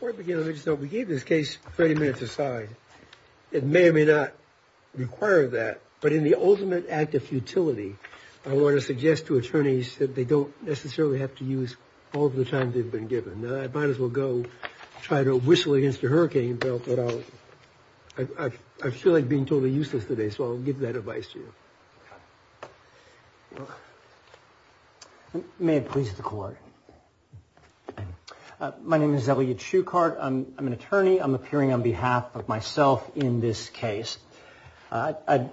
For beginners, we gave this case 30 minutes aside, it may or may not require of that. But in the ultimate act of futility, I want to suggest to attorneys that they don't necessarily have to use all of the time they've been given. I might as well go try to whistle against a hurricane, but I feel like being totally useless today so I'll give that advice to you. You may have pleased the court. My name is Elliot Shukart. I'm an attorney. I'm appearing on behalf of myself in this case. I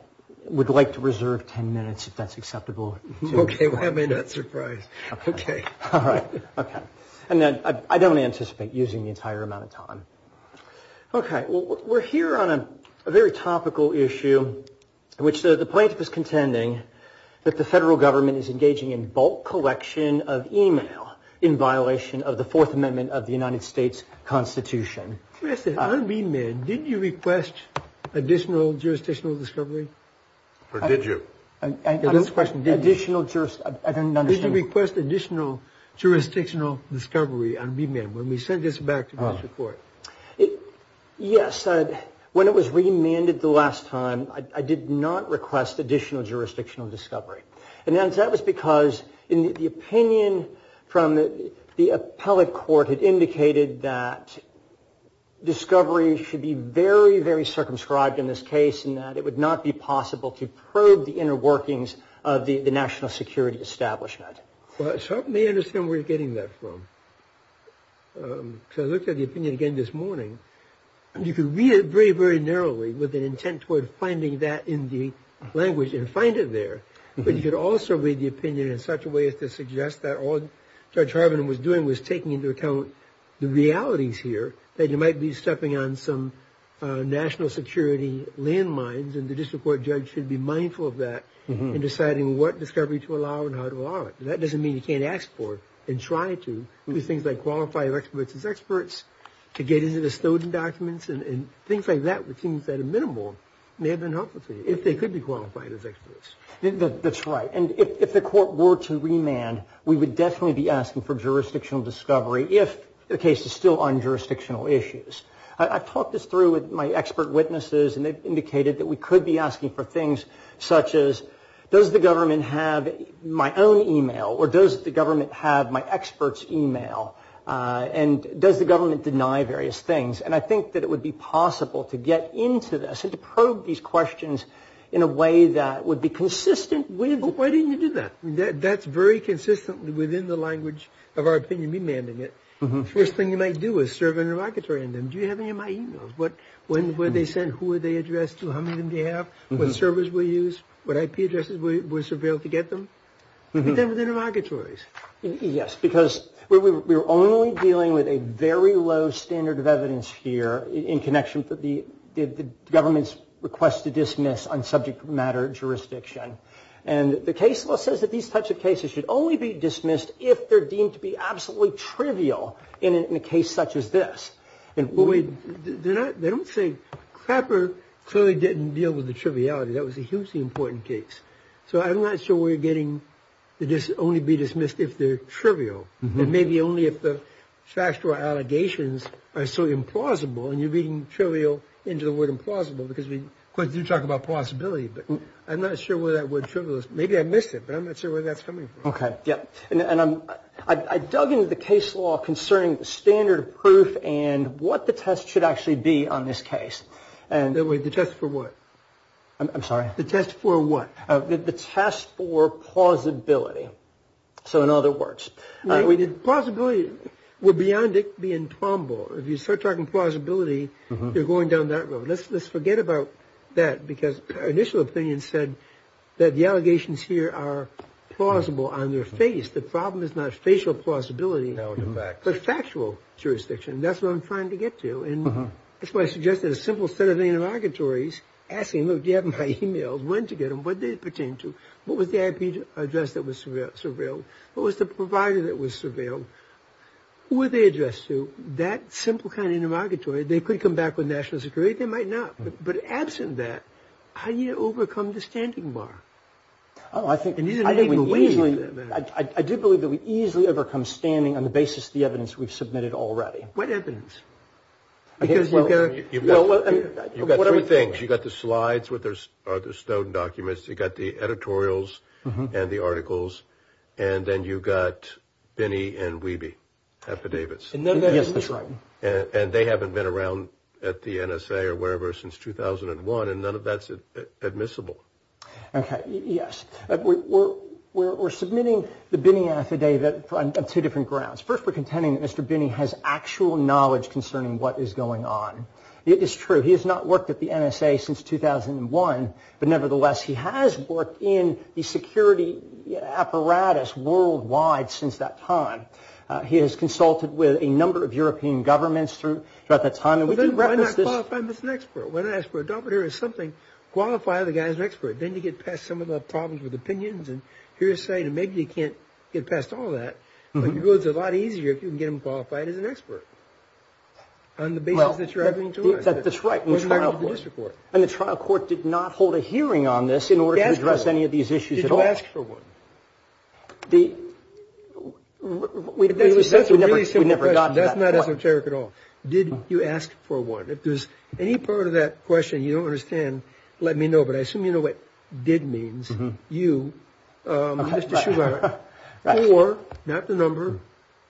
would like to reserve 10 minutes if that's acceptable. Okay, why am I not surprised? Okay. All right. Okay. And I don't anticipate using the entire amount of time. Okay. We're here on a very topical issue in which the plaintiff is contending that the federal government is engaging in bulk collection of email in violation of the Fourth Amendment of the United States Constitution. On remand, did you request additional jurisdictional discovery? Or did you? I don't understand. Did you request additional jurisdictional discovery on remand when we sent this back to the court? Yes. When it was remanded the last time, I did not request additional jurisdictional discovery. And that was because the opinion from the appellate court had indicated that discovery should be very, very circumscribed in this case and that it would not be possible to probe the inner workings of the national security establishment. Well, it's hard for me to understand where you're getting that from. So I looked at the opinion again this morning. You could read it very, very narrowly with an intent toward finding that in the language and find it there. But you could also read the opinion in such a way as to suggest that all Judge Harbin was doing was taking into account the realities here, that you might be stepping on some national security landmines, and the district court judge should be mindful of that in deciding what discovery to allow and how to allow it. That doesn't mean you can't ask for and try to do things like qualify your experts as experts, to get into the Stoughton documents, and things like that, which seems at a minimal, may have been helpful to you, if they could be qualified as experts. That's right. And if the court were to remand, we would definitely be asking for jurisdictional discovery if the case is still on jurisdictional issues. I've talked this through with my expert witnesses, and they've indicated that we could be asking for things such as, does the government have my own email, or does the government have my expert's email, and does the government deny various things? And I think that it would be possible to get into this and to probe these questions in a way that would be consistent with... But why didn't you do that? That's very consistent within the language of our opinion remanding it. The first thing you might do is serve an interrogatory on them. Do you have any of my emails? When were they sent? Who were they addressed to? How many of them do you have? What servers were used? What IP addresses were surveilled to get them? And then with the interrogatories. Yes, because we're only dealing with a very low standard of evidence here in connection with the government's request to dismiss on subject matter jurisdiction. And the case law says that these types of cases should only be dismissed if they're deemed to be absolutely trivial in a case such as this. They don't say... Clapper clearly didn't deal with the triviality. That was a hugely important case. So I'm not sure we're getting to only be dismissed if they're trivial. And maybe only if the factual allegations are so implausible. And you're beating trivial into the word implausible because we do talk about possibility. But I'm not sure whether that word trivial is... Maybe I missed it, but I'm not sure where that's coming from. Okay. Yeah. And I dug into the case law concerning the standard of proof and what the test should actually be on this case. The test for what? I'm sorry? The test for what? The test for plausibility. So in other words, we did... Plausibility. We're beyond it being trombo. If you start talking plausibility, you're going down that road. Let's forget about that because our initial opinion said that the allegations here are plausible on their face. The problem is not facial plausibility. No, the facts. But factual jurisdiction. That's what I'm trying to get to. And that's why I suggested a simple set of intermogatories asking, look, do you have my e-mails? When to get them? What do they pertain to? What was the IP address that was surveilled? What was the provider that was surveilled? Who were they addressed to? That simple kind of intermogatory, they could come back with national security. They might not. But absent that, how do you overcome the standing bar? Oh, I think... And you didn't even believe that. I did believe that we easily overcome standing on the basis of the evidence we've submitted already. What evidence? You've got three things. You've got the slides with the Snowden documents. You've got the editorials and the articles. And then you've got Binney and Wiebe affidavits. Yes, that's right. And they haven't been around at the NSA or wherever since 2001. And none of that's admissible. Okay. Yes. We're submitting the Binney affidavit on two different grounds. First, we're contending that Mr. Binney has actual knowledge concerning what is going on. It is true. He has not worked at the NSA since 2001. But nevertheless, he has worked in the security apparatus worldwide since that time. He has consulted with a number of European governments throughout that time. Why not qualify him as an expert? Why not ask for a doctorate or something? Qualify the guy as an expert. Then you get past some of the problems with opinions and hearsay. And maybe you can't get past all that. But it's a lot easier if you can get him qualified as an expert on the basis that you're having to ask him. That's right. And the trial court did not hold a hearing on this in order to address any of these issues at all. Did you ask for one? That's a really simple question. That's not esoteric at all. Did you ask for one? If there's any part of that question you don't understand, let me know. But I assume you know what did means. You, Mr. Shugart, or not the number,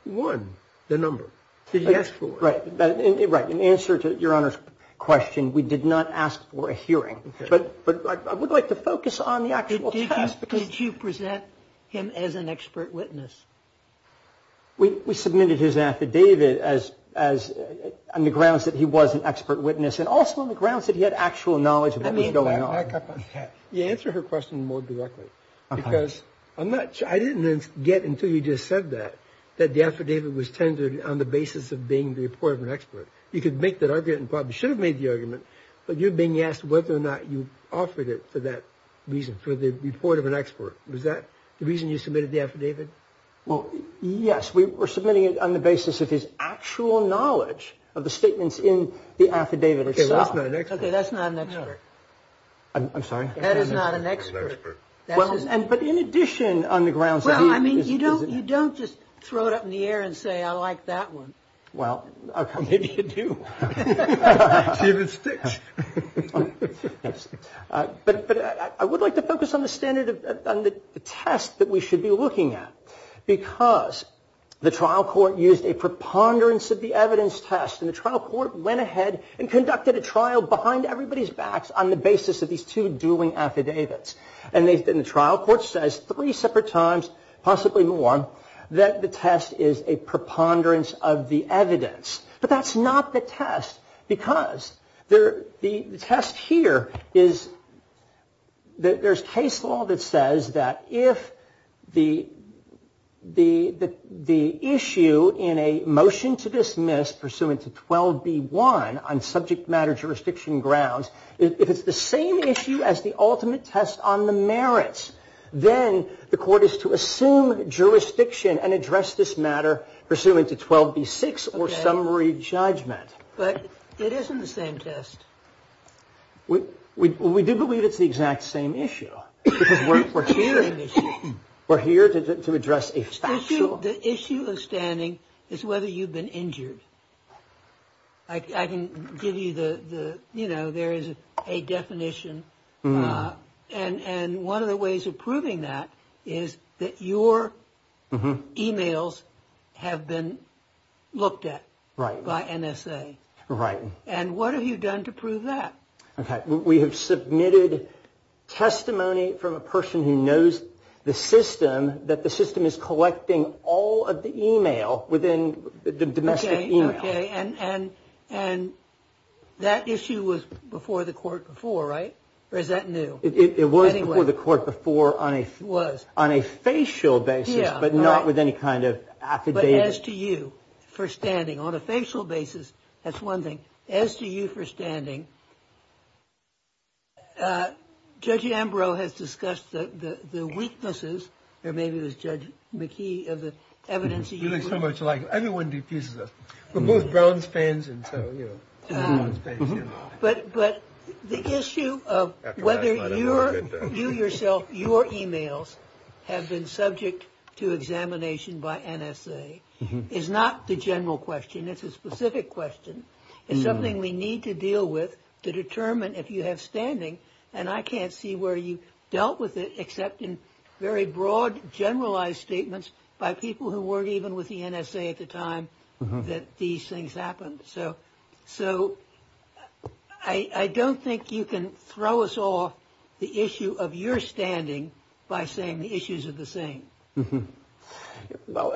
one, the number. Did you ask for one? Right. In answer to Your Honor's question, we did not ask for a hearing. But I would like to focus on the actual test. Did you present him as an expert witness? We submitted his affidavit on the grounds that he was an expert witness and also on the grounds that he had actual knowledge of what was going on. Back up on that. Answer her question more directly. Because I didn't get until you just said that, that the affidavit was tendered on the basis of being the report of an expert. You could make that argument and probably should have made the argument, but you're being asked whether or not you offered it for that reason, for the report of an expert. Was that the reason you submitted the affidavit? Well, yes. We were submitting it on the basis of his actual knowledge of the statements in the affidavit itself. That's not an expert. Okay, that's not an expert. I'm sorry? That is not an expert. But in addition on the grounds that he was an expert. Well, I mean, you don't just throw it up in the air and say, I like that one. Well, maybe you do. See if it sticks. But I would like to focus on the test that we should be looking at. Because the trial court used a preponderance of the evidence test, and the trial court went ahead and conducted a trial behind everybody's backs on the basis of these two dueling affidavits. And the trial court says three separate times, possibly more, that the test is a preponderance of the evidence. But that's not the test, because the test here is that there's case law that says that if the issue in a motion to dismiss pursuant to 12B1 on subject matter jurisdiction grounds, if it's the same issue as the ultimate test on the merits, then the court is to assume jurisdiction and address this matter pursuant to 12B6 or summary judgment. But it isn't the same test. We do believe it's the exact same issue. We're here to address a factual. The issue of standing is whether you've been injured. I can give you the, you know, there is a definition. And one of the ways of proving that is that your e-mails have been looked at by NSA. Right. And what have you done to prove that? Okay. We have submitted testimony from a person who knows the system, that the system is collecting all of the e-mail within the domestic e-mail. Okay. And that issue was before the court before, right? Or is that new? It was before the court before on a facial basis, but not with any kind of affidavit. As to you for standing on a facial basis. That's one thing. As to you for standing. Judge Ambrose has discussed the weaknesses. Or maybe it was Judge McKee of the evidence. You look so much like everyone defuses us. We're both Browns fans. And so, you know. But the issue of whether you yourself, your e-mails, have been subject to examination by NSA is not the general question. It's a specific question. It's something we need to deal with to determine if you have standing. And I can't see where you dealt with it except in very broad, generalized statements by people who weren't even with the NSA at the time that these things happened. So I don't think you can throw us off the issue of your standing by saying the issues are the same. Well,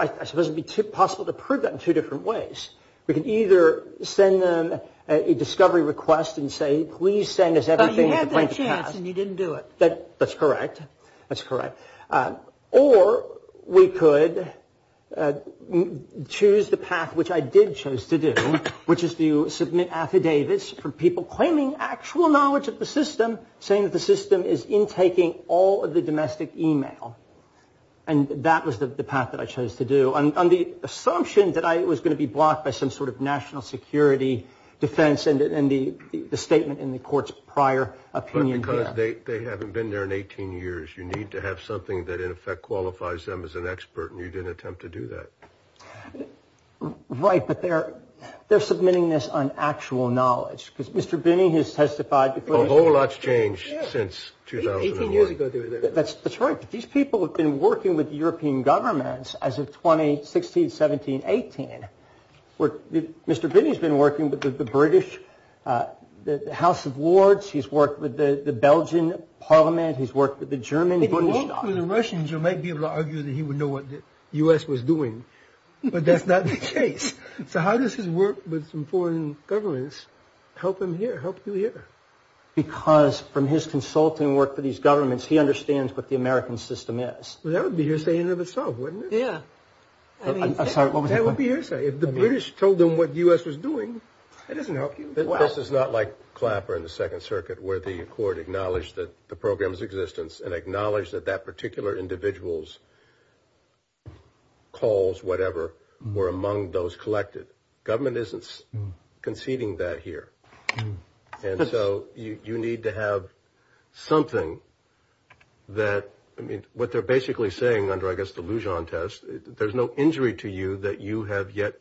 I suppose it would be possible to prove that in two different ways. We could either send them a discovery request and say, please send us everything at the point in the past. But you had that chance and you didn't do it. That's correct. That's correct. Or we could choose the path, which I did choose to do, which is to submit affidavits for people claiming actual knowledge of the system, saying that the system is intaking all of the domestic e-mail. And that was the path that I chose to do, on the assumption that I was going to be blocked by some sort of national security defense and the statement in the court's prior opinion. But because they haven't been there in 18 years, you need to have something that in effect qualifies them as an expert, and you didn't attempt to do that. Right, but they're submitting this on actual knowledge. Because Mr. Binney has testified before. A whole lot's changed since 2001. That's right. These people have been working with European governments as of 2016, 17, 18. Mr. Binney's been working with the British House of Lords. He's worked with the Belgian parliament. He's worked with the German Bundestag. If you work with the Russians, you might be able to argue that he would know what the U.S. was doing. But that's not the case. So how does his work with some foreign governments help him here, help you here? Because from his consulting work for these governments, he understands what the American system is. Well, that would be hearsay in and of itself, wouldn't it? Yeah. I'm sorry, what was the question? That would be hearsay. If the British told them what the U.S. was doing, that doesn't help you. This is not like Clapper in the Second Circuit, where the court acknowledged that the program's existence and acknowledged that that particular individual's calls, whatever, were among those collected. Government isn't conceding that here. And so you need to have something that, I mean, what they're basically saying under, I guess, the Lujan test, there's no injury to you that you have yet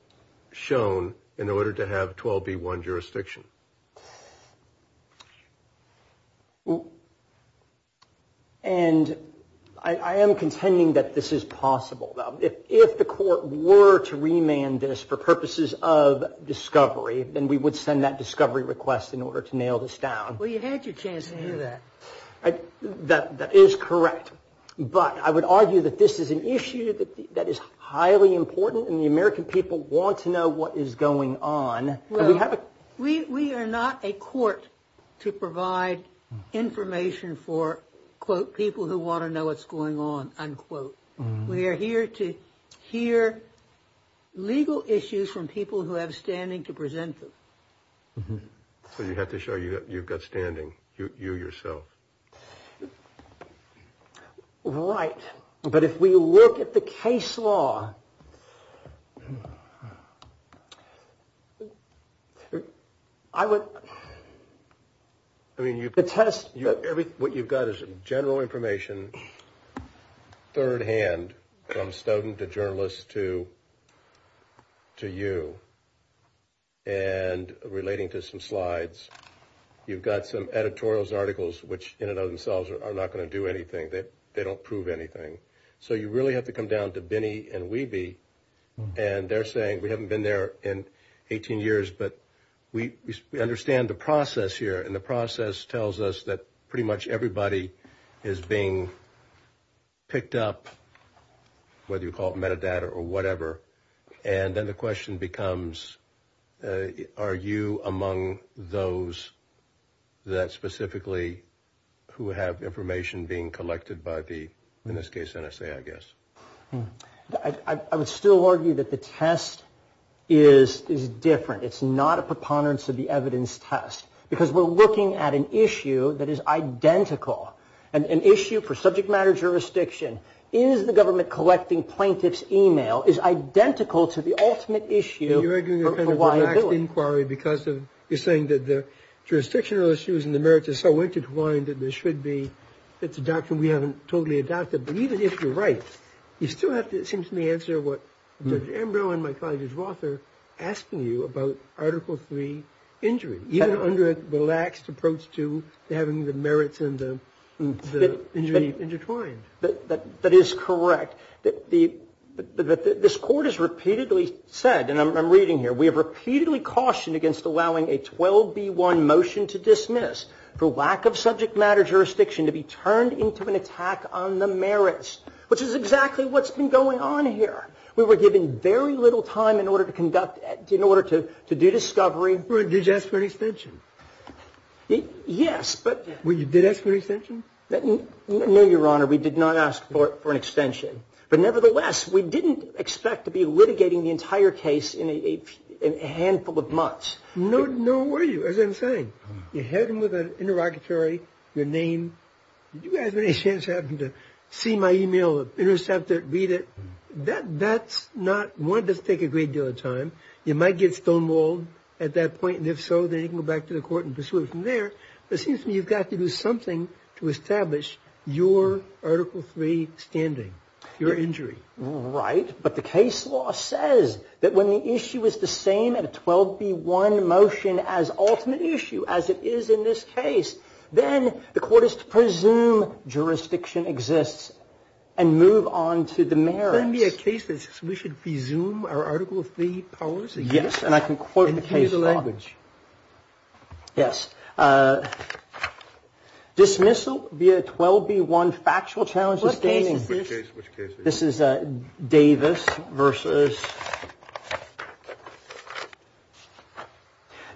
shown in order to have 12B1 jurisdiction. And I am contending that this is possible. If the court were to remand this for purposes of discovery, then we would send that discovery request in order to nail this down. Well, you had your chance to do that. That is correct. But I would argue that this is an issue that is highly important, and the American people want to know what is going on. We are not a court to provide information for, quote, people who want to know what's going on, unquote. We are here to hear legal issues from people who have standing to present them. So you have to show you've got standing, you yourself. Right. But if we look at the case law, I would, I mean, you could test. What you've got is general information, third hand, from student to journalist to you, and relating to some slides. You've got some editorials, articles, which in and of themselves are not going to do anything. They don't prove anything. So you really have to come down to Binney and Wiebe, and they're saying we haven't been there in 18 years, but we understand the process here, and the process tells us that pretty much everybody is being picked up, whether you call it metadata or whatever. And then the question becomes, are you among those that specifically, who have information being collected by the, in this case, NSA, I guess. I would still argue that the test is different. It's not a preponderance of the evidence test, because we're looking at an issue that is identical. An issue for subject matter jurisdiction is the government collecting plaintiff's email is identical to the ultimate issue for why you're doing it. You're arguing a kind of relaxed inquiry because of, you're saying that the jurisdictional issues and the merits are so intertwined that there should be, it's a doctrine we haven't totally adopted. But even if you're right, you still have to, it seems to me, answer what Judge Ambrose and my colleague Judge Roth are asking you about Article III injury, even under a relaxed approach to having the merits and the injury intertwined. That is correct. This Court has repeatedly said, and I'm reading here, we have repeatedly cautioned against allowing a 12B1 motion to dismiss for lack of subject matter jurisdiction to be turned into an attack on the merits, which is exactly what's been going on here. We were given very little time in order to conduct, in order to do discovery. Well, did you ask for an extension? Yes, but. Well, did you ask for an extension? No, Your Honor. We did not ask for an extension. But nevertheless, we didn't expect to be litigating the entire case in a handful of months. No, nor were you, as I'm saying. You had him with an interrogatory, your name. Did you guys have any chance to have him to see my e-mail, intercept it, read it? That's not, one, does take a great deal of time. You might get stonewalled at that point, and if so, then you can go back to the Court and pursue it from there. But it seems to me you've got to do something to establish your Article III standing, your injury. Right, but the case law says that when the issue is the same at a 12B1 motion as ultimate issue, as it is in this case, then the Court is to presume jurisdiction exists and move on to the merits. Wouldn't it be a case that says we should presume our Article III powers? And use the language. Yes. Dismissal via 12B1 factual challenge to standing. What case is this? Which case is this? This is Davis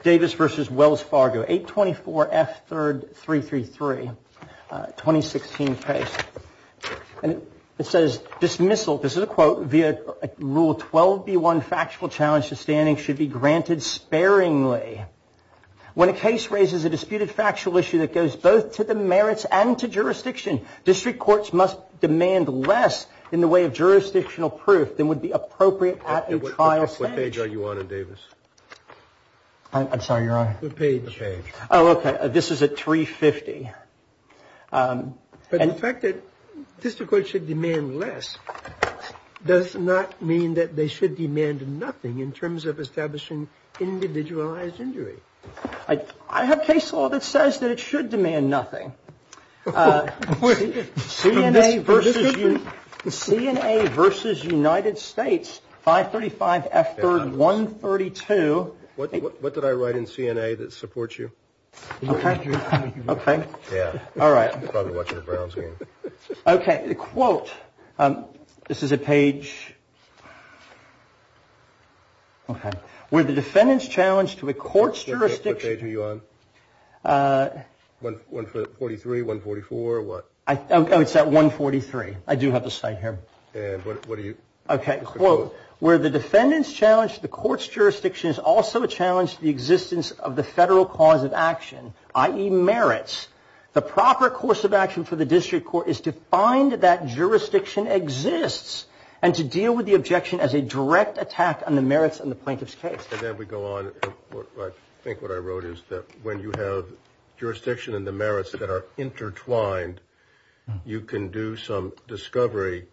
versus Wells Fargo, 824F333, 2016 case. And it says, dismissal, this is a quote, dismissal via Rule 12B1 factual challenge to standing should be granted sparingly. When a case raises a disputed factual issue that goes both to the merits and to jurisdiction, district courts must demand less in the way of jurisdictional proof than would be appropriate at a trial stage. What page are you on in Davis? I'm sorry, Your Honor. The page. Oh, okay. This is at 350. But the fact that district courts should demand less does not mean that they should demand nothing in terms of establishing individualized injury. I have case law that says that it should demand nothing. CNA versus United States, 535F3132. What did I write in CNA that supports you? Okay. Yeah. All right. You're probably watching a brown screen. Okay. Quote. This is a page. Okay. Where the defendant's challenge to a court's jurisdiction. What page are you on? 143, 144, what? Oh, it's at 143. I do have the site here. And what are you? Okay. Quote. Where the defendant's challenge to the court's jurisdiction is also a challenge to the existence of the federal cause of action, i.e. merits. The proper course of action for the district court is to find that jurisdiction exists and to deal with the objection as a direct attack on the merits in the plaintiff's case. And then we go on. I think what I wrote is that when you have jurisdiction and the merits that are intertwined, you can do some discovery.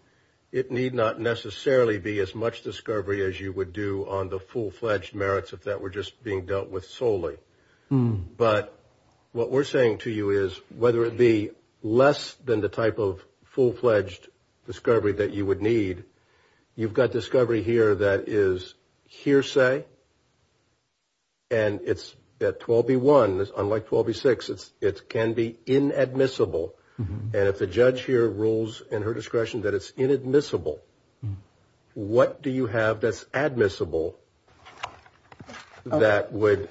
It need not necessarily be as much discovery as you would do on the full-fledged merits if that were just being dealt with solely. But what we're saying to you is whether it be less than the type of full-fledged discovery that you would need, you've got discovery here that is hearsay and it's at 12B1. Unlike 12B6, it can be inadmissible. And if the judge here rules in her discretion that it's inadmissible, what do you have that's admissible that would be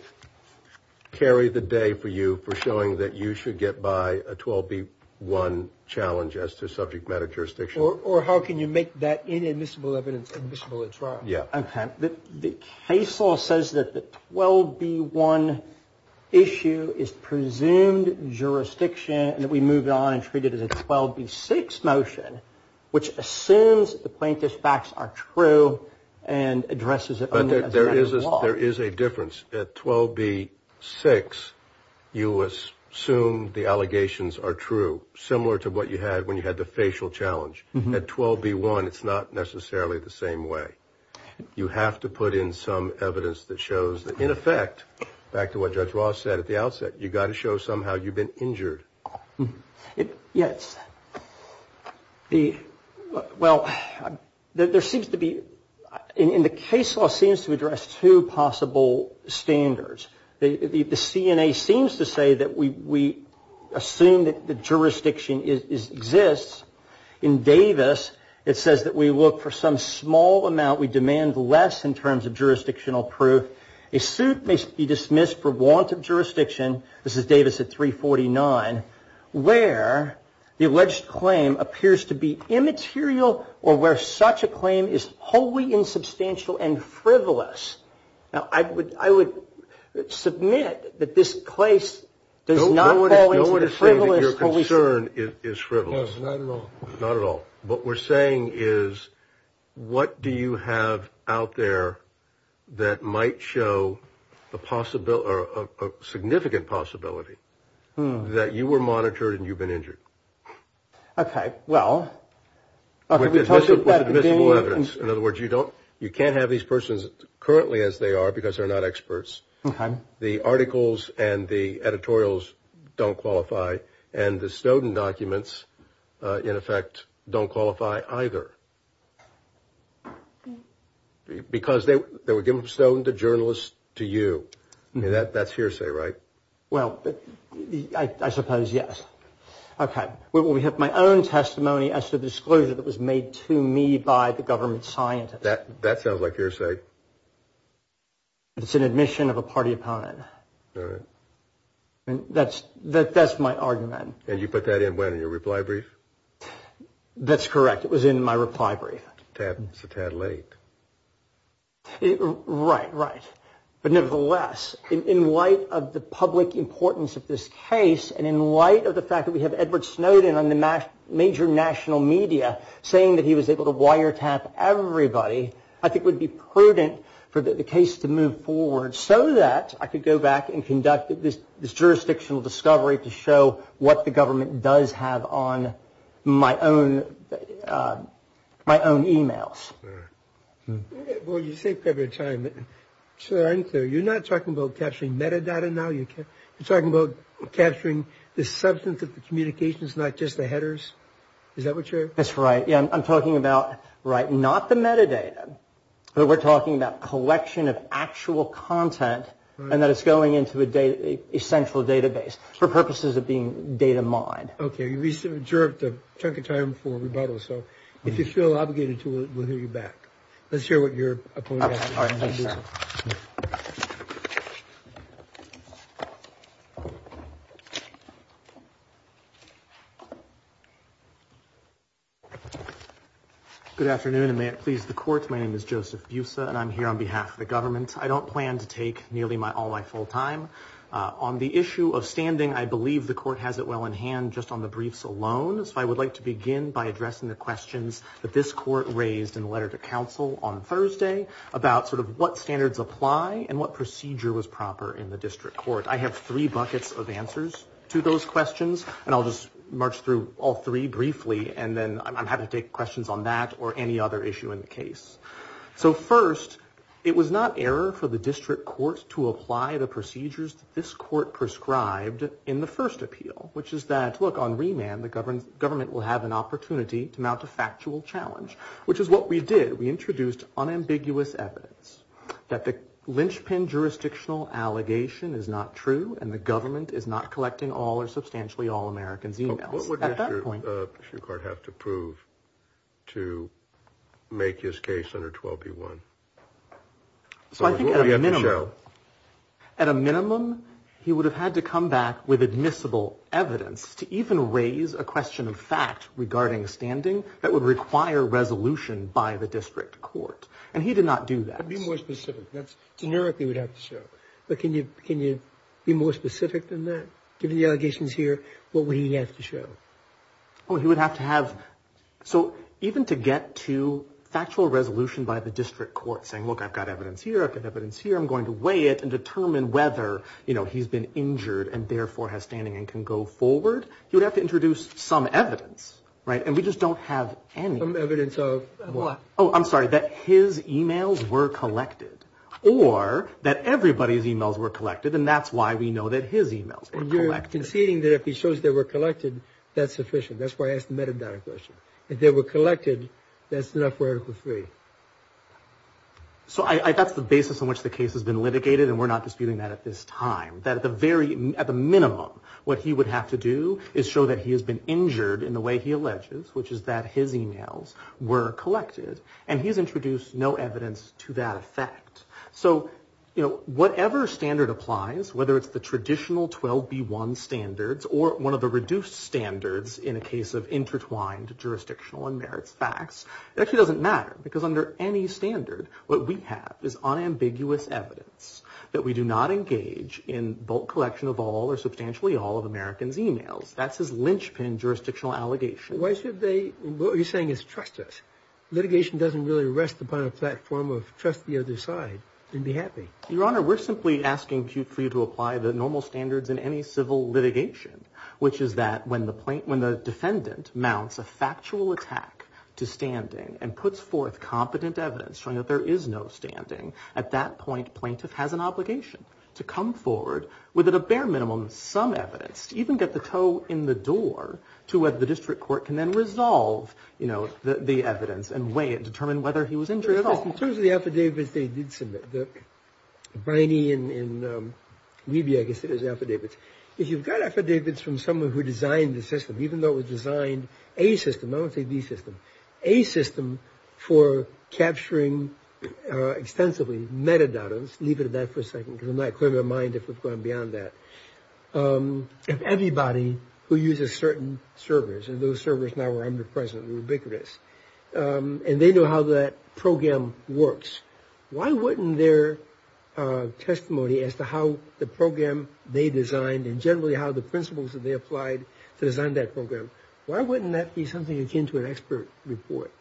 carry the day for you for showing that you should get by a 12B1 challenge as to subject matter jurisdiction? Or how can you make that inadmissible evidence admissible at trial? Yeah. Okay. The case law says that the 12B1 issue is presumed jurisdiction and that we move on and treat it as a 12B6 motion, which assumes the plaintiff's facts are true and addresses it as a matter of law. There is a difference. At 12B6, you assume the allegations are true, similar to what you had when you had the facial challenge. At 12B1, it's not necessarily the same way. You have to put in some evidence that shows that, in effect, back to what Judge Ross said at the outset, you've got to show somehow you've been injured. Yes. Well, there seems to be – and the case law seems to address two possible standards. The CNA seems to say that we assume that the jurisdiction exists. In Davis, it says that we look for some small amount. We demand less in terms of jurisdictional proof. A suit may be dismissed for want of jurisdiction. This is Davis at 349, where the alleged claim appears to be immaterial or where such a claim is wholly insubstantial and frivolous. Now, I would submit that this case does not fall into the frivolous – Don't say that your concern is frivolous. No, not at all. Not at all. What we're saying is what do you have out there that might show a significant possibility that you were monitored and you've been injured? Okay, well – With admissible evidence. In other words, you don't – you can't have these persons currently as they are because they're not experts. Okay. The articles and the editorials don't qualify, and the Snowden documents, in effect, don't qualify either. Because they were given from Snowden to journalists to you. That's hearsay, right? Well, I suppose, yes. Okay. We have my own testimony as to the disclosure that was made to me by the government scientists. That sounds like hearsay. It's an admission of a party opponent. All right. That's my argument. And you put that in when, in your reply brief? That's correct. It was in my reply brief. It's a tad late. Right, right. But nevertheless, in light of the public importance of this case, and in light of the fact that we have Edward Snowden on the major national media saying that he was able to wiretap everybody, I think it would be prudent for the case to move forward so that I could go back and conduct this jurisdictional discovery to show what the government does have on my own e-mails. Well, you say private time. You're not talking about capturing metadata now. You're talking about capturing the substance of the communications, not just the headers. Is that what you're – That's right. I'm talking about, right, not the metadata, but we're talking about collection of actual content and that it's going into a central database for purposes of being data mined. Okay. You reserved a chunk of time for rebuttal. So if you feel obligated to it, we'll hear you back. Let's hear what your opponent has to say. All right. Good afternoon, and may it please the Court. My name is Joseph Busa, and I'm here on behalf of the government. I don't plan to take nearly all my full time. On the issue of standing, I believe the Court has it well in hand just on the briefs alone. So I would like to begin by addressing the questions that this Court raised in the letter to counsel on Thursday about sort of what standards apply and what procedure was proper in the district court. I have three buckets of answers to those questions, and I'll just march through all three briefly, and then I'm happy to take questions on that or any other issue in the case. So first, it was not error for the district court to apply the procedures that this court prescribed in the first appeal, which is that, look, on remand, the government will have an opportunity to mount a factual challenge, which is what we did. We introduced unambiguous evidence that the lynchpin jurisdictional allegation is not true and the government is not collecting all or substantially all Americans' e-mails. What would the district court have to prove to make his case under 12b-1? So I think at a minimum, he would have had to come back with admissible evidence to even raise a question of fact regarding standing that would require resolution by the district court. And he did not do that. Be more specific. That's generic he would have to show. But can you be more specific than that? Given the allegations here, what would he have to show? Oh, he would have to have. So even to get to factual resolution by the district court saying, look, I've got evidence here. I've got evidence here. I'm going to weigh it and determine whether, you know, he's been injured and therefore has standing and can go forward. You would have to introduce some evidence. Right. And we just don't have any evidence of what? Oh, I'm sorry, that his e-mails were collected or that everybody's e-mails were collected. And that's why we know that his e-mails were collected. I'm conceding that if he shows they were collected, that's sufficient. That's why I asked the metadata question. If they were collected, that's enough for Article III. So that's the basis on which the case has been litigated, and we're not disputing that at this time, that at the minimum what he would have to do is show that he has been injured in the way he alleges, which is that his e-mails were collected. And he's introduced no evidence to that effect. So, you know, whatever standard applies, whether it's the traditional 12B1 standards or one of the reduced standards in a case of intertwined jurisdictional and merits facts, it actually doesn't matter because under any standard what we have is unambiguous evidence that we do not engage in bulk collection of all or substantially all of Americans' e-mails. That's his linchpin jurisdictional allegation. Why should they? What you're saying is trust us. Your Honor, we're simply asking for you to apply the normal standards in any civil litigation, which is that when the defendant mounts a factual attack to standing and puts forth competent evidence showing that there is no standing, at that point plaintiff has an obligation to come forward with at a bare minimum some evidence, even get the toe in the door to whether the district court can then resolve, you know, the evidence and weigh it and determine whether he was injured at all. In terms of the affidavits they did submit, the Briney and Levy, I guess it was, affidavits, if you've got affidavits from someone who designed the system, even though it was designed, a system, I won't say the system, a system for capturing extensively metadata, let's leave it at that for a second because I'm not clear of my mind if we've gone beyond that, of everybody who uses certain servers and those servers now are underpriced and ubiquitous and they know how that program works. Why wouldn't their testimony as to how the program they designed and generally how the principles that they applied to design that program, why wouldn't that be something akin to an expert report?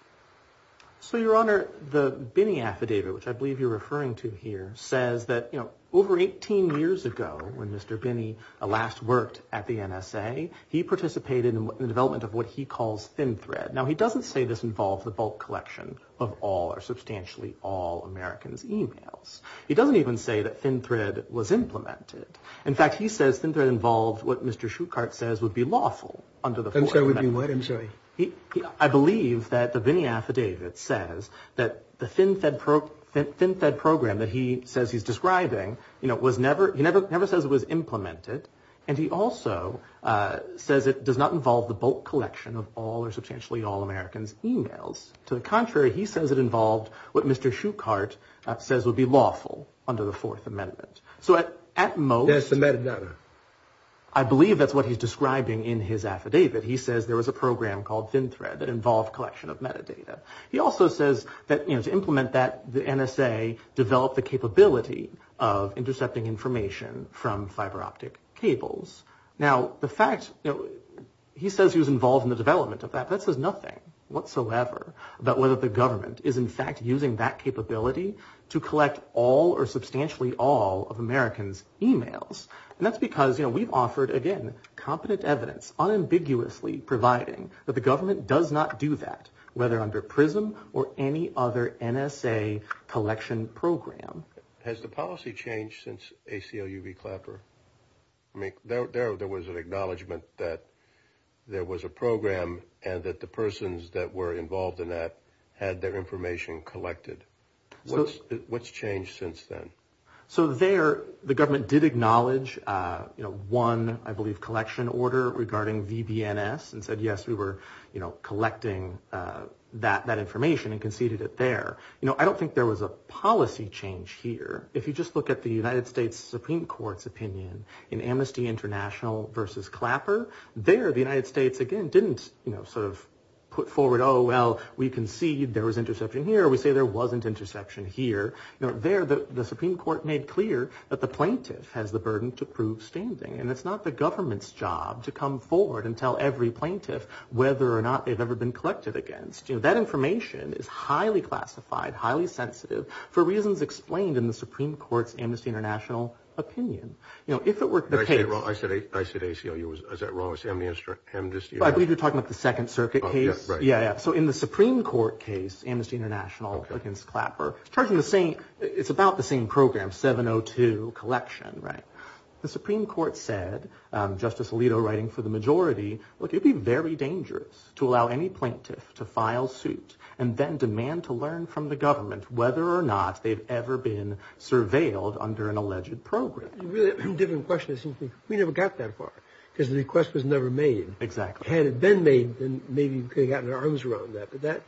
So, Your Honor, the Briney affidavit, which I believe you're referring to here, says that, you know, over 18 years ago when Mr. Briney last worked at the NSA, he participated in the development of what he calls thin thread. Now, he doesn't say this involved the bulk collection of all or substantially all Americans' e-mails. He doesn't even say that thin thread was implemented. In fact, he says thin thread involved what Mr. Shuchart says would be lawful under the Fourth Amendment. Thin thread would be what, I'm sorry? I believe that the Briney affidavit says that the thin thread program that he says he's describing, you know, he never says it was implemented and he also says it does not involve the bulk collection of all or substantially all Americans' e-mails. To the contrary, he says it involved what Mr. Shuchart says would be lawful under the Fourth Amendment. So at most, I believe that's what he's describing in his affidavit. He says there was a program called thin thread that involved collection of metadata. He also says that, you know, to implement that, the NSA developed the capability of intercepting information from fiber optic cables. Now, the fact that he says he was involved in the development of that, that says nothing whatsoever about whether the government is in fact using that capability to collect all or substantially all of Americans' e-mails. And that's because, you know, we've offered, again, competent evidence unambiguously providing that the government does not do that, whether under PRISM or any other NSA collection program. Has the policy changed since ACLU v. Clapper? I mean, there was an acknowledgment that there was a program and that the persons that were involved in that had their information collected. What's changed since then? So there, the government did acknowledge, you know, one, I believe, collection order regarding VBNS and said, yes, we were, you know, collecting that information and conceded it there. You know, I don't think there was a policy change here. If you just look at the United States Supreme Court's opinion in Amnesty International v. Clapper, there the United States, again, didn't, you know, sort of put forward, oh, well, we concede there was interception here. We say there wasn't interception here. You know, there the Supreme Court made clear that the plaintiff has the burden to prove standing. And it's not the government's job to come forward and tell every plaintiff whether or not they've ever been collected against. You know, that information is highly classified, highly sensitive, for reasons explained in the Supreme Court's Amnesty International opinion. You know, if it were the case. I said ACLU. Is that wrong? I said Amnesty International. I believe you're talking about the Second Circuit case. Yeah, yeah. So in the Supreme Court case, Amnesty International v. Clapper, it's charging the same, it's about the same program, 702 collection, right? The Supreme Court said, Justice Alito writing for the majority, look, it would be very dangerous to allow any plaintiff to file suit and then demand to learn from the government whether or not they've ever been surveilled under an alleged program. A different question, it seems to me. We never got that far because the request was never made. Exactly. Had it been made, then maybe we could have gotten our arms around that. But that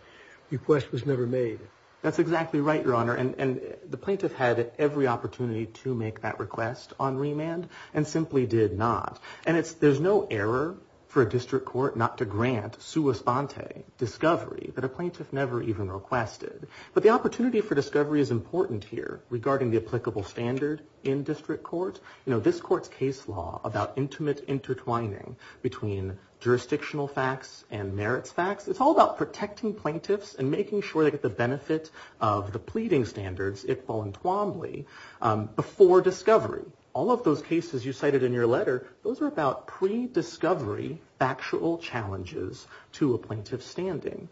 request was never made. That's exactly right, Your Honor. And the plaintiff had every opportunity to make that request on remand and simply did not. And there's no error for a district court not to grant sua sponte, discovery, that a plaintiff never even requested. But the opportunity for discovery is important here regarding the applicable standard in district court. You know, this court's case law about intimate intertwining between jurisdictional facts and merits facts, it's all about protecting plaintiffs and making sure they get the benefit of the pleading standards, Iqbal and Twombly, before discovery. All of those cases you cited in your letter, those are about pre-discovery factual challenges to a plaintiff's standing.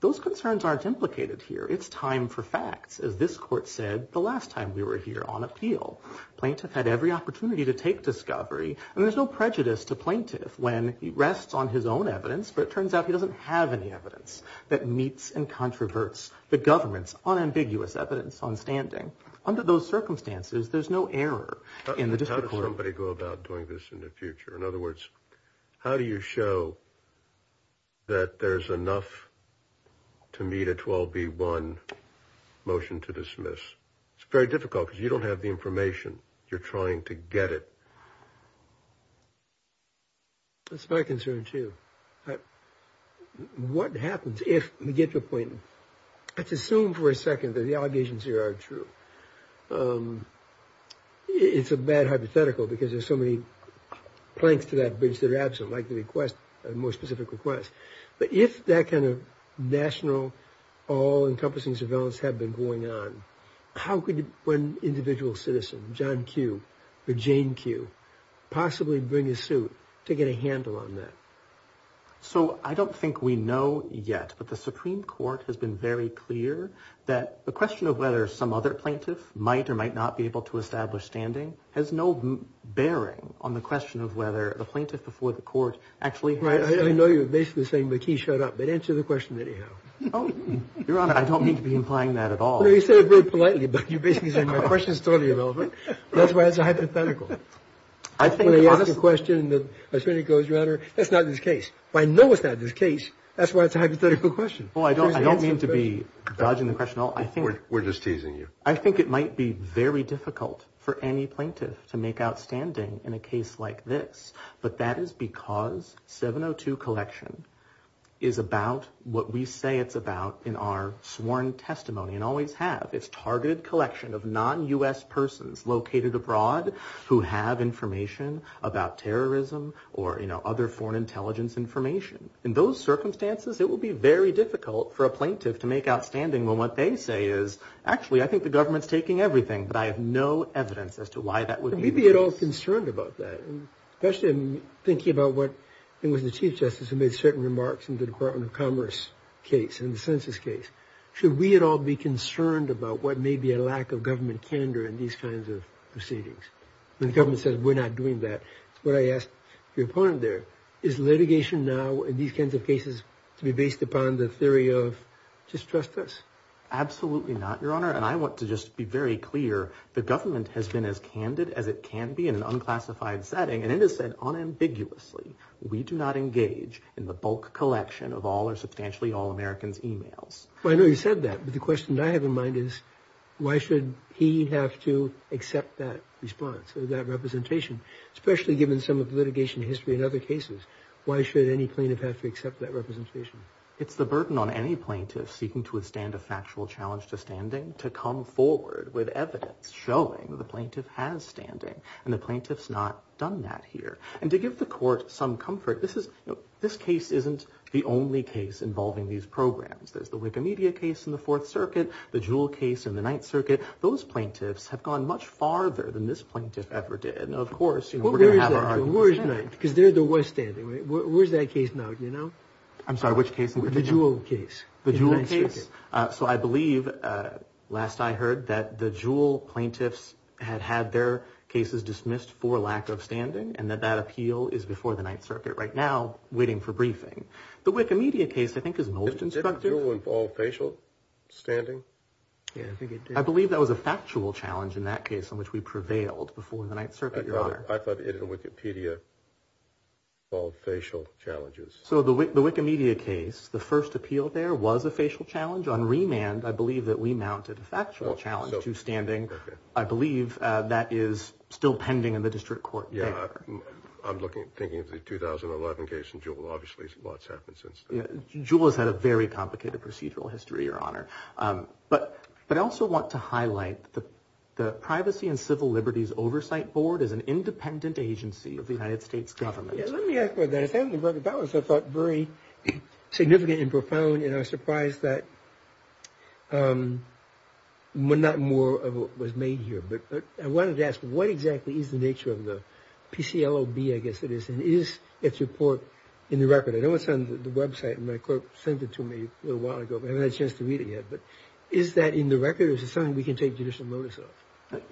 Those concerns aren't implicated here. It's time for facts. As this court said the last time we were here on appeal, plaintiff had every opportunity to take discovery. And there's no prejudice to plaintiff when he rests on his own evidence, but it turns out he doesn't have any evidence that meets and controverts the government's unambiguous evidence on standing. Under those circumstances, there's no error in the district court. How does somebody go about doing this in the future? In other words, how do you show that there's enough to meet a 12B1 motion to dismiss? It's very difficult because you don't have the information. You're trying to get it. That's my concern, too. What happens if we get to a point, let's assume for a second that the allegations here are true. It's a bad hypothetical because there's so many planks to that bridge that are absent, like the request, a more specific request. But if that kind of national, all-encompassing surveillance had been going on, how could one individual citizen, John Q or Jane Q, possibly bring a suit to get a handle on that? So I don't think we know yet, but the Supreme Court has been very clear that the question of whether some other plaintiff might or might not be able to establish standing has no bearing on the question of whether the plaintiff before the court actually has to. I know you're basically saying McKee showed up, but answer the question anyhow. Your Honor, I don't mean to be implying that at all. No, you said it very politely, but you're basically saying my question is totally irrelevant. That's why it's a hypothetical. When you ask a question, the attorney goes, Your Honor, that's not this case. I know it's not this case. That's why it's a hypothetical question. Well, I don't mean to be dodging the question at all. We're just teasing you. I think it might be very difficult for any plaintiff to make out standing in a case like this, but that is because 702 collection is about what we say it's about in our sworn testimony and always have. It's targeted collection of non-U.S. persons located abroad who have information about terrorism or other foreign intelligence information. In those circumstances, it will be very difficult for a plaintiff to make out standing when what they say is, Actually, I think the government's taking everything, but I have no evidence as to why that would be the case. Could we be at all concerned about that? Especially in thinking about what it was the Chief Justice who made certain remarks in the Department of Commerce case and the census case. Should we at all be concerned about what may be a lack of government candor in these kinds of proceedings? When the government says, We're not doing that. That's what I asked your opponent there. Is litigation now in these kinds of cases to be based upon the theory of just trust us? Absolutely not, Your Honor, and I want to just be very clear. The government has been as candid as it can be in an unclassified setting, and it has said unambiguously, we do not engage in the bulk collection of all or substantially all Americans' e-mails. I know you said that, but the question I have in mind is, why should he have to accept that response or that representation, especially given some of the litigation history in other cases? Why should any plaintiff have to accept that representation? It's the burden on any plaintiff seeking to withstand a factual challenge to standing to come forward with evidence showing the plaintiff has standing, and the plaintiff's not done that here. And to give the court some comfort, this case isn't the only case involving these programs. There's the Wikimedia case in the Fourth Circuit, the Jewell case in the Ninth Circuit. Those plaintiffs have gone much farther than this plaintiff ever did. Now, of course, we're going to have our argument. Where is that? Because they're the ones standing, right? Where is that case now, do you know? I'm sorry, which case? The Jewell case. The Jewell case. So I believe, last I heard, that the Jewell plaintiffs had had their cases dismissed for lack of standing and that that appeal is before the Ninth Circuit right now, waiting for briefing. The Wikimedia case, I think, is most instructive. Didn't Jewell involve facial standing? I believe that was a factual challenge in that case in which we prevailed before the Ninth Circuit, Your Honor. I thought it in the Wikipedia involved facial challenges. So the Wikimedia case, the first appeal there was a facial challenge. On remand, I believe that we mounted a factual challenge to standing. I believe that is still pending in the district court. Yeah, I'm thinking of the 2011 case in Jewell. Obviously, a lot's happened since then. Jewell has had a very complicated procedural history, Your Honor. But I also want to highlight the Privacy and Civil Liberties Oversight Board is an independent agency of the United States government. Let me ask about that. I thought very significant and profound, and I was surprised that not more was made here. But I wanted to ask, what exactly is the nature of the PCLOB, I guess it is, and is its report in the record? I know it's on the website, and my clerk sent it to me a little while ago. I haven't had a chance to read it yet. But is that in the record, or is it something we can take judicial notice of?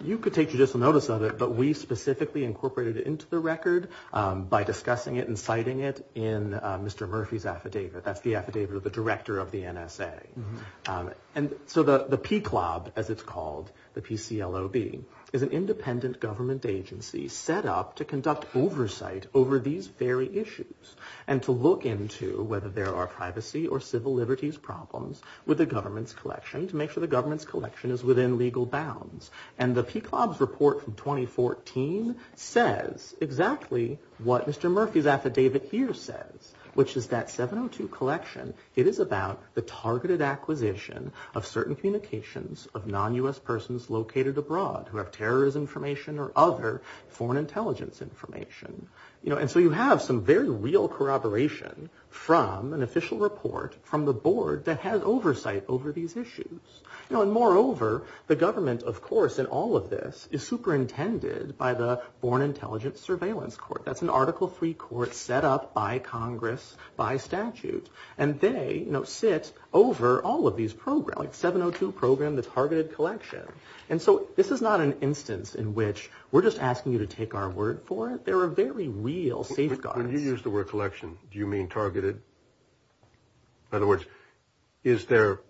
You could take judicial notice of it, but we specifically incorporated it into the record by discussing it and citing it in Mr. Murphy's affidavit. That's the affidavit of the director of the NSA. And so the PCLOB, as it's called, the P-C-L-O-B, is an independent government agency set up to conduct oversight over these very issues and to look into whether there are privacy or civil liberties problems with the government's collection to make sure the government's collection is within legal bounds. And the PCLOB's report from 2014 says exactly what Mr. Murphy's affidavit here says, which is that 702 collection, it is about the targeted acquisition of certain communications of non-U.S. persons located abroad who have terrorist information or other foreign intelligence information. And so you have some very real corroboration from an official report from the board that has oversight over these issues. And moreover, the government, of course, in all of this, is superintended by the Foreign Intelligence Surveillance Court. That's an Article III court set up by Congress by statute. And they sit over all of these programs, 702 program, the targeted collection. And so this is not an instance in which we're just asking you to take our word for it. There are very real safeguards. When you use the word collection, do you mean targeted? In other words, is there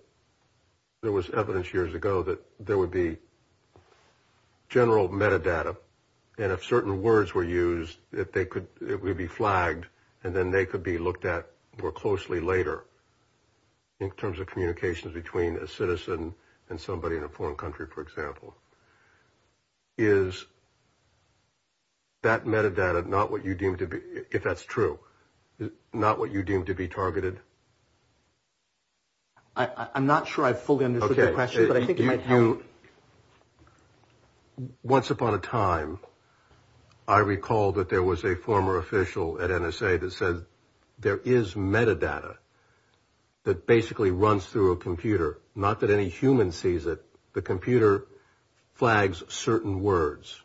– there was evidence years ago that there would be general metadata, and if certain words were used, that they could – it would be flagged, and then they could be looked at more closely later in terms of communications between a citizen and somebody in a foreign country, for example. Is that metadata not what you deem to be – if that's true, not what you deem to be targeted? I'm not sure I fully understood the question, but I think it might help. Once upon a time, I recall that there was a former official at NSA that said there is metadata that basically runs through a computer. Not that any human sees it. The computer flags certain words.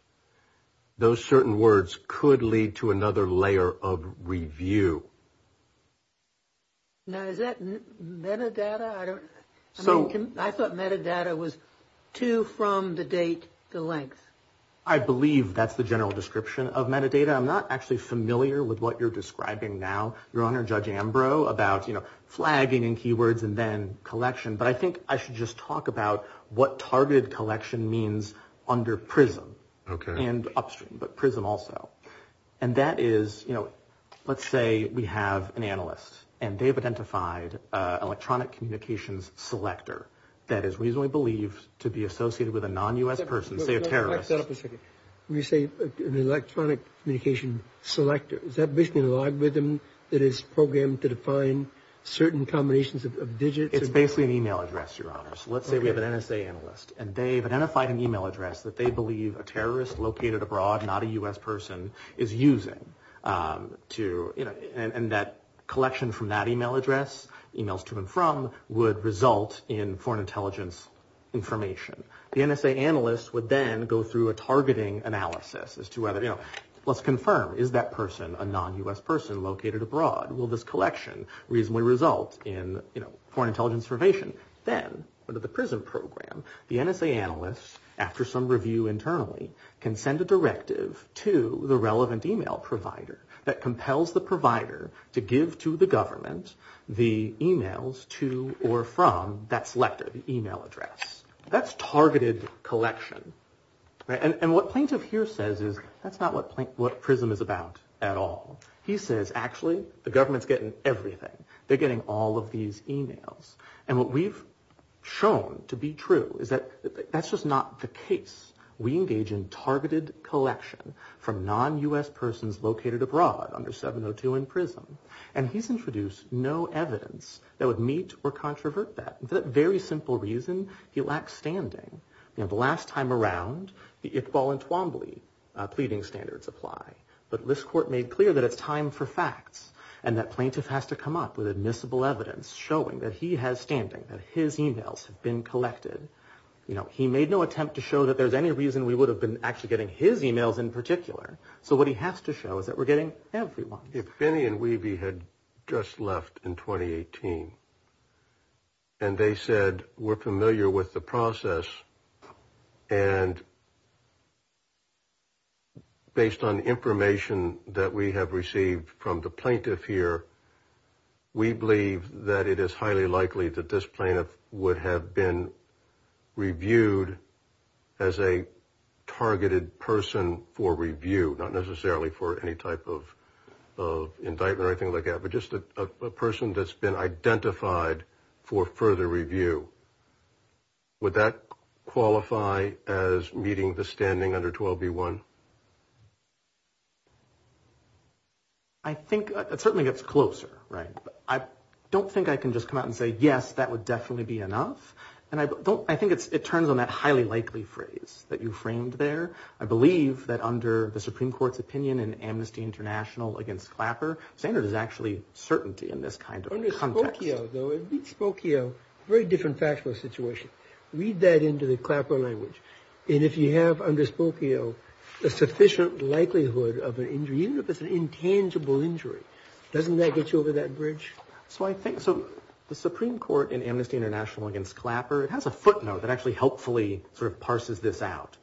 Those certain words could lead to another layer of review. Now, is that metadata? I thought metadata was to, from, the date, the length. I believe that's the general description of metadata. I'm not actually familiar with what you're describing now, Your Honor, Judge Ambrose, about flagging in keywords and then collection, but I think I should just talk about what targeted collection means under PRISM and upstream, but PRISM also. And that is, let's say we have an analyst, and they've identified an electronic communications selector that is reasonably believed to be associated with a non-U.S. person, say a terrorist. Wait a second. When you say an electronic communications selector, is that basically a logarithm that is programmed to define certain combinations of digits? It's basically an e-mail address, Your Honor. So let's say we have an NSA analyst, and they've identified an e-mail address that they believe a terrorist located abroad, not a U.S. person, is using. And that collection from that e-mail address, e-mails to and from, would result in foreign intelligence information. The NSA analyst would then go through a targeting analysis as to whether, you know, let's confirm, is that person a non-U.S. person located abroad? Will this collection reasonably result in, you know, foreign intelligence information? Then, under the PRISM program, the NSA analyst, after some review internally, can send a directive to the relevant e-mail provider that compels the provider to give to the government the e-mails to or from that selected e-mail address. That's targeted collection. And what Plaintiff here says is, that's not what PRISM is about at all. He says, actually, the government's getting everything. They're getting all of these e-mails. And what we've shown to be true is that that's just not the case. We engage in targeted collection from non-U.S. persons located abroad under 702 and PRISM. And he's introduced no evidence that would meet or controvert that. For that very simple reason, he lacks standing. You know, the last time around, the Iqbal and Twombly pleading standards apply. But this court made clear that it's time for facts and that Plaintiff has to come up with admissible evidence showing that he has standing, that his e-mails have been collected. You know, he made no attempt to show that there's any reason we would have been actually getting his e-mails in particular. So what he has to show is that we're getting everyone's. If Finney and Weavey had just left in 2018 and they said we're familiar with the process and based on information that we have received from the plaintiff here, we believe that it is highly likely that this plaintiff would have been reviewed as a targeted person for review, not necessarily for any type of indictment or anything like that, but just a person that's been identified for further review. Would that qualify as meeting the standing under 12B1? I think it certainly gets closer, right? I don't think I can just come out and say, yes, that would definitely be enough. And I think it turns on that highly likely phrase that you framed there. I believe that under the Supreme Court's opinion in Amnesty International against Clapper, standard is actually certainty in this kind of context. Under Spokio, though, it would be Spokio. Very different factual situation. Read that into the Clapper language. And if you have under Spokio a sufficient likelihood of an injury, even if it's an intangible injury, doesn't that get you over that bridge? So the Supreme Court in Amnesty International against Clapper, it has a footnote that actually helpfully sort of parses this out.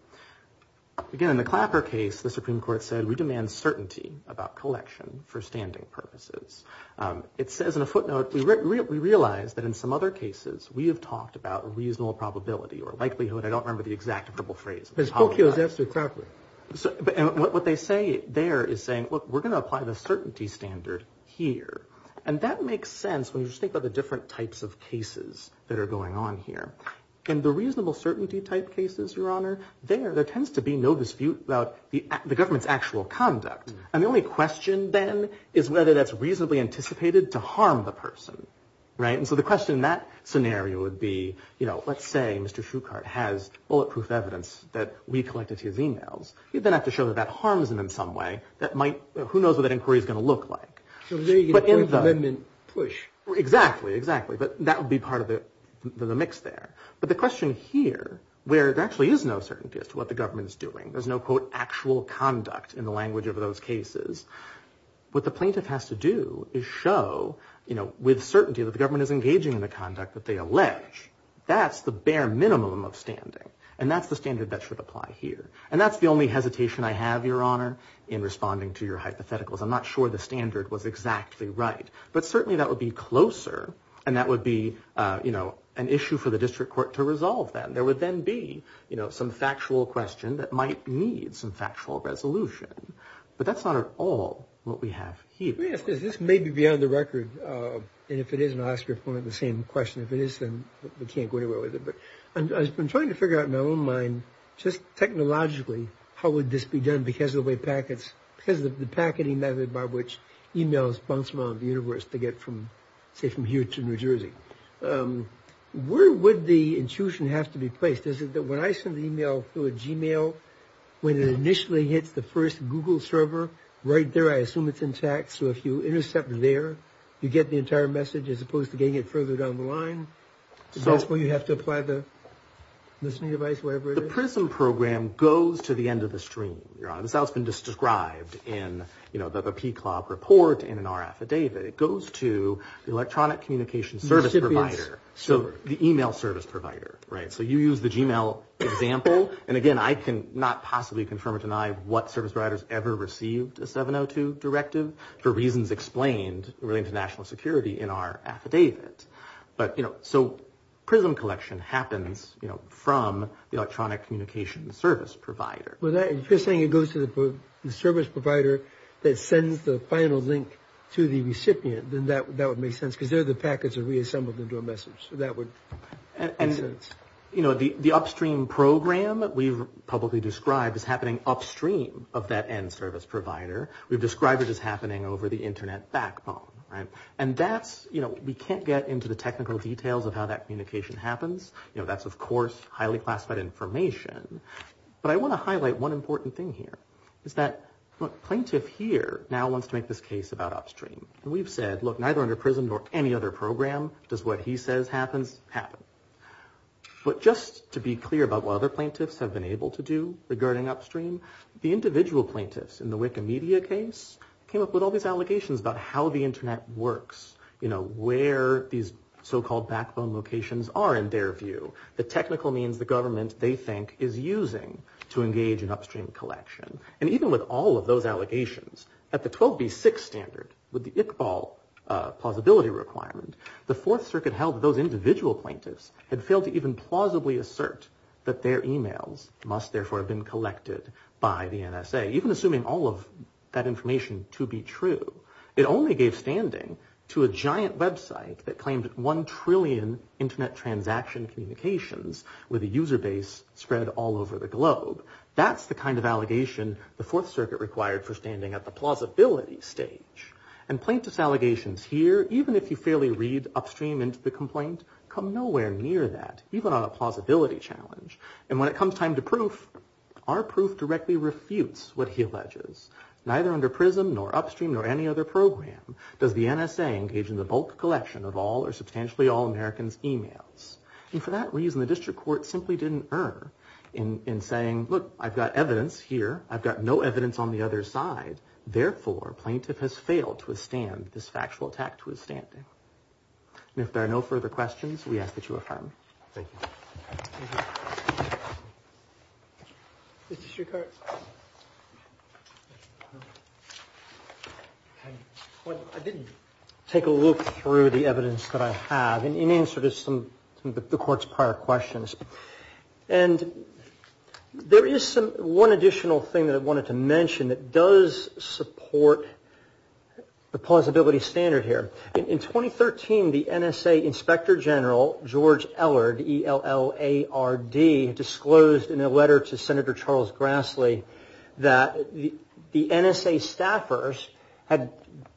Again, in the Clapper case, the Supreme Court said, we demand certainty about collection for standing purposes. It says in a footnote, we realize that in some other cases we have talked about reasonable probability or likelihood. I don't remember the exact verbal phrase. Spokio is after Clapper. And what they say there is saying, look, we're going to apply the certainty standard here. And that makes sense when you think about the different types of cases that are going on here. And the reasonable certainty type cases, Your Honor, there, there tends to be no dispute about the government's actual conduct. And the only question then is whether that's reasonably anticipated to harm the person. Right. And so the question in that scenario would be, you know, let's say Mr. Foucault has bulletproof evidence that we collected his e-mails. You then have to show that that harms him in some way. Who knows what that inquiry is going to look like. So there you get a point of amendment push. Exactly, exactly. But that would be part of the mix there. But the question here, where there actually is no certainty as to what the government is doing, there's no, quote, actual conduct in the language of those cases, what the plaintiff has to do is show, you know, with certainty that the government is engaging in the conduct that they allege, that's the bare minimum of standing. And that's the standard that should apply here. And that's the only hesitation I have, Your Honor, in responding to your hypotheticals. I'm not sure the standard was exactly right. But certainly that would be closer. And that would be, you know, an issue for the district court to resolve then. There would then be, you know, some factual question that might need some factual resolution. But that's not at all what we have here. Let me ask this. This may be beyond the record. And if it is, and I'll ask your point, the same question. If it is, then we can't go anywhere with it. But I'm trying to figure out in my own mind, just technologically, how would this be done because of the way packets, because of the packeting method by which e-mails bounce around the universe to get from, say, from here to New Jersey. Where would the intuition have to be placed? Is it that when I send an e-mail through a Gmail, when it initially hits the first Google server right there, I assume it's intact. So if you intercept there, you get the entire message, as opposed to getting it further down the line? Is that where you have to apply the listening device, whatever it is? The PRISM program goes to the end of the stream. This has been described in the PCLOG report and in our affidavit. It goes to the electronic communications service provider, the e-mail service provider. So you use the Gmail example. And, again, I cannot possibly confirm or deny what service providers ever received a 702 directive for reasons explained relating to national security in our affidavit. But, you know, so PRISM collection happens, you know, from the electronic communications service provider. If you're saying it goes to the service provider that sends the final link to the recipient, then that would make sense, because there the packets are reassembled into a message. So that would make sense. You know, the upstream program we've publicly described is happening upstream of that end service provider. We've described it as happening over the Internet backbone, right? And that's, you know, we can't get into the technical details of how that communication happens. You know, that's, of course, highly classified information. But I want to highlight one important thing here is that, look, plaintiff here now wants to make this case about upstream. And we've said, look, neither under PRISM nor any other program does what he says happens happen. But just to be clear about what other plaintiffs have been able to do regarding upstream, the individual plaintiffs in the Wikimedia case came up with all these allegations about how the Internet works, you know, where these so-called backbone locations are, in their view, the technical means the government they think is using to engage in upstream collection. And even with all of those allegations, at the 12B6 standard, with the Iqbal plausibility requirement, the Fourth Circuit held that those individual plaintiffs had failed to even plausibly assert that their emails must, therefore, have been collected by the NSA, even assuming all of that information to be true. It only gave standing to a giant website that claimed one trillion Internet transaction communications with a user base spread all over the globe. That's the kind of allegation the Fourth Circuit required for standing at the plausibility stage. And plaintiff's allegations here, even if you fairly read upstream into the complaint, come nowhere near that, even on a plausibility challenge. And when it comes time to proof, our proof directly refutes what he alleges. Neither under PRISM, nor upstream, nor any other program, does the NSA engage in the bulk collection of all or substantially all Americans' emails. And for that reason, the district court simply didn't err in saying, look, I've got evidence here, I've got no evidence on the other side, therefore, plaintiff has failed to withstand this factual attack to his standing. And if there are no further questions, we ask that you affirm. Thank you. I did take a look through the evidence that I have in answer to some of the court's prior questions. And there is one additional thing that I wanted to mention that does support the plausibility standard here. In 2013, the NSA Inspector General, George Ellard, E-L-L-A-R-D, disclosed in a letter to Senator Charles Grassley that the NSA staffers had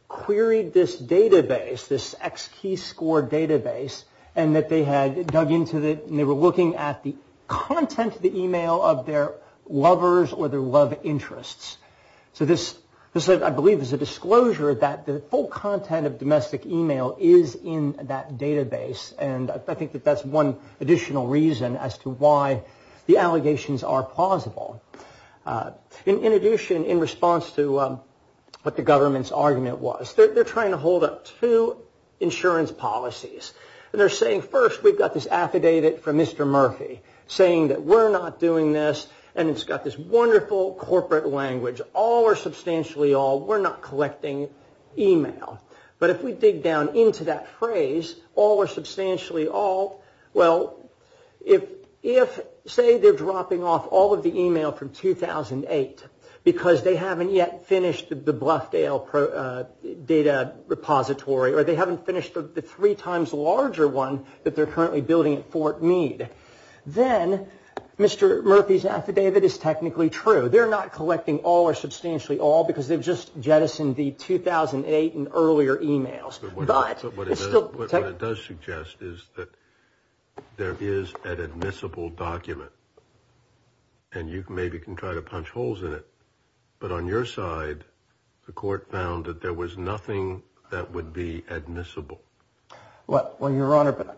queried this database, this X-key score database, and that they had dug into it, and they were looking at the content of the email of their lovers or their love interests. So this, I believe, is a disclosure that the full content of domestic email is in that database. And I think that that's one additional reason as to why the allegations are plausible. In addition, in response to what the government's argument was, they're trying to hold up two insurance policies. And they're saying, first, we've got this affidavit from Mr. Murphy, saying that we're not doing this, and it's got this wonderful corporate language, all or substantially all, we're not collecting email. But if we dig down into that phrase, all or substantially all, well, if, say, they're dropping off all of the email from 2008 because they haven't yet finished the Bluffdale data repository, or they haven't finished the three times larger one that they're currently building at Fort Meade, then Mr. Murphy's affidavit is technically true. They're not collecting all or substantially all because they've just jettisoned the 2008 and earlier emails. But what it does suggest is that there is an admissible document, and you maybe can try to punch holes in it. But on your side, the court found that there was nothing that would be admissible. Well, Your Honor,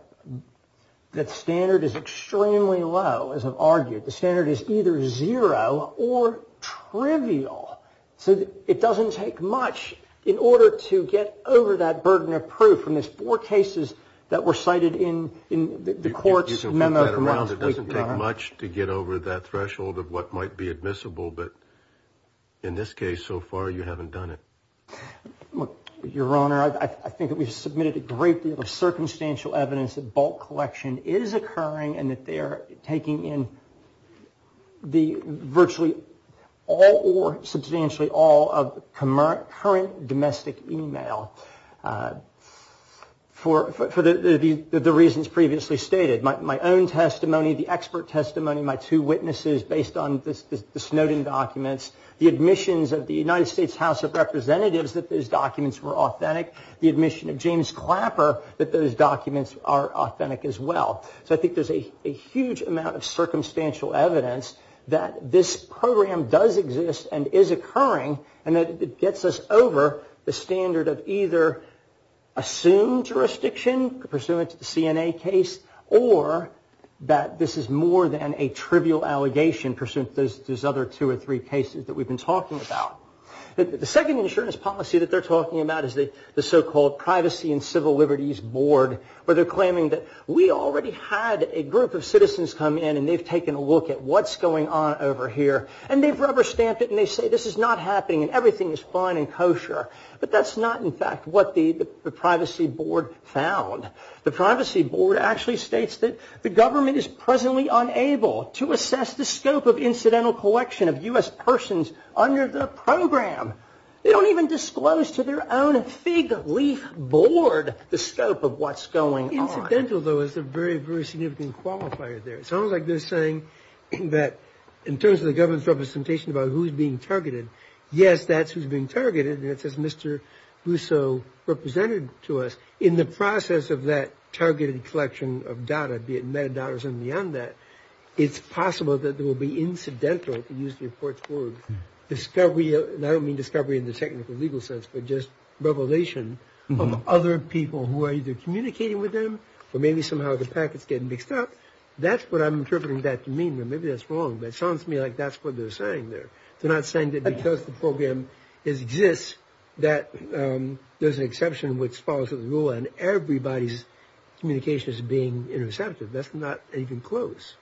that standard is extremely low, as I've argued. The standard is either zero or trivial. So it doesn't take much in order to get over that burden of proof. And there's four cases that were cited in the court's memo. It doesn't take much to get over that threshold of what might be admissible. But in this case, so far, you haven't done it. Your Honor, I think that we've submitted a great deal of circumstantial evidence that bulk collection is occurring and that they're taking in virtually all or substantially all of current domestic email for the reasons previously stated. My own testimony, the expert testimony, my two witnesses based on the Snowden documents, the admissions of the United States House of Representatives that those documents were authentic, the admission of James Clapper that those documents are authentic as well. So I think there's a huge amount of circumstantial evidence that this program does exist and is occurring and that it gets us over the standard of either assumed jurisdiction, pursuant to the CNA case, or that this is more than a trivial allegation, pursuant to those other two or three cases that we've been talking about. The second insurance policy that they're talking about is the so-called Privacy and Civil Liberties Board, where they're claiming that we already had a group of citizens come in and they've taken a look at what's going on over here and they've rubber-stamped it and they say this is not happening and everything is fine and kosher. But that's not, in fact, what the Privacy Board found. The Privacy Board actually states that the government is presently unable to assess the scope of incidental collection of U.S. persons under the program. They don't even disclose to their own fig leaf board the scope of what's going on. Incidental, though, is a very, very significant qualifier there. It sounds like they're saying that in terms of the government's representation about who's being targeted, yes, that's who's being targeted and it's as Mr. Russo represented to us. In the process of that targeted collection of data, be it metadata or something beyond that, it's possible that there will be incidental, to use the report's word, discovery, and I don't mean discovery in the technical legal sense, but just revelation of other people who are either communicating with them or maybe somehow the packets getting mixed up. That's what I'm interpreting that to mean. Now, maybe that's wrong, but it sounds to me like that's what they're saying there. They're not saying that because the program exists that there's an exception which follows the rule and everybody's communication is being intercepted. That's not even close.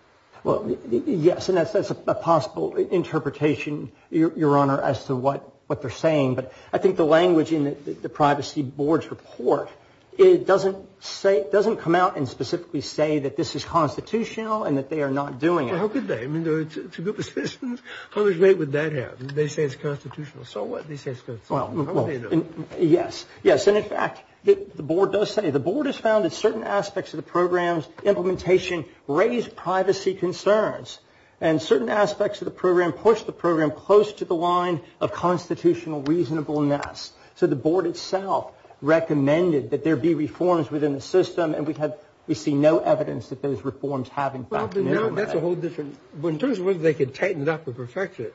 Well, yes, and that's a possible interpretation, Your Honor, as to what they're saying, but I think the language in the Privacy Board's report doesn't come out and specifically say that this is constitutional and that they are not doing it. Well, how could they? I mean, it's a group of citizens. How great would that have? They say it's constitutional. So what? They say it's constitutional. Well, yes. Yes, and in fact, the Board does say, the Board has found that certain aspects of the program's implementation raise privacy concerns and certain aspects of the program push the program close to the line of constitutional reasonableness. So the Board itself recommended that there be reforms within the system and we see no evidence that those reforms have, in fact. You know, that's a whole different. In terms of whether they could tighten it up or perfect it,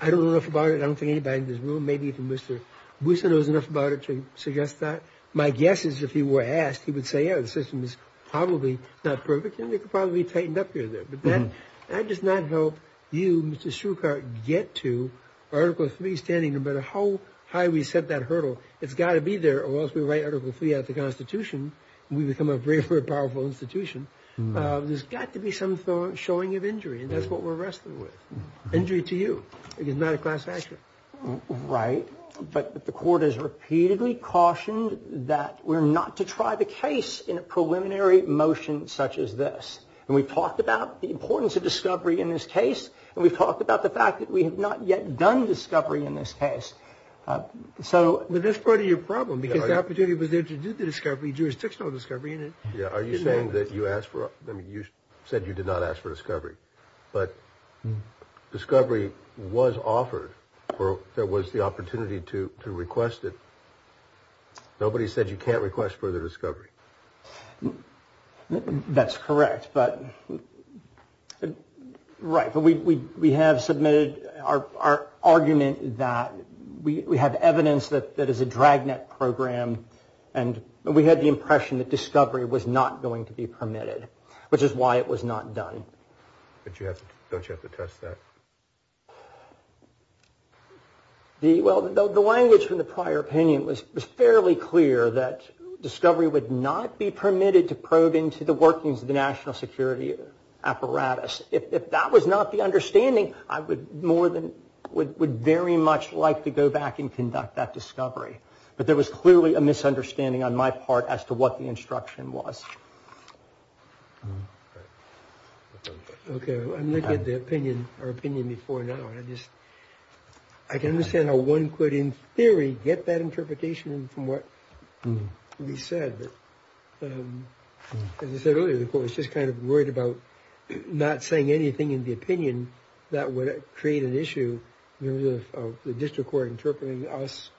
I don't know enough about it. I don't think anybody in this room, maybe even Mr. Boussa knows enough about it to suggest that. My guess is if he were asked, he would say, yeah, the system is probably not perfect and it could probably be tightened up here and there. But that does not help you, Mr. Schuchart, get to Article III, standing no matter how high we set that hurdle. It's got to be there or else we write Article III out of the Constitution and we become a very, very powerful institution. There's got to be some showing of injury and that's what we're wrestling with. Injury to you. It is not a class action. Right. But the Court has repeatedly cautioned that we're not to try the case in a preliminary motion such as this. And we've talked about the importance of discovery in this case and we've talked about the fact that we have not yet done discovery in this case. So... But that's part of your problem because the opportunity was there to do the discovery, jurisdictional discovery. Are you saying that you asked for, I mean, you said you did not ask for discovery, but discovery was offered or there was the opportunity to request it. Nobody said you can't request further discovery. That's correct. But, right. We have submitted our argument that we have evidence that is a dragnet program and we had the impression that discovery was not going to be permitted, which is why it was not done. Don't you have to test that? Well, the language from the prior opinion was fairly clear that discovery would not be permitted to probe into the workings of the national security apparatus. If that was not the understanding, I would very much like to go back and conduct that discovery. But there was clearly a misunderstanding on my part as to what the instruction was. Okay. I'm looking at the opinion before now. I can understand how one could, in theory, get that interpretation from what we said. As I said earlier, the court was just kind of worried about not saying anything in the opinion that would create an issue of the district court interpreting us,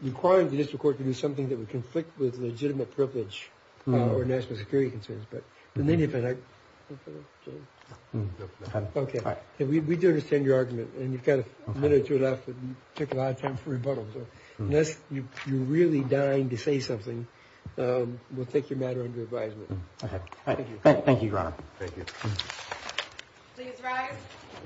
requiring the district court to do something that would conflict with legitimate privilege or national security concerns. We do understand your argument, and you've got a minute or two left. It took a lot of time for rebuttal. Unless you're really dying to say something, we'll take your matter under advisement. Thank you, Your Honor. Thank you. Please rise.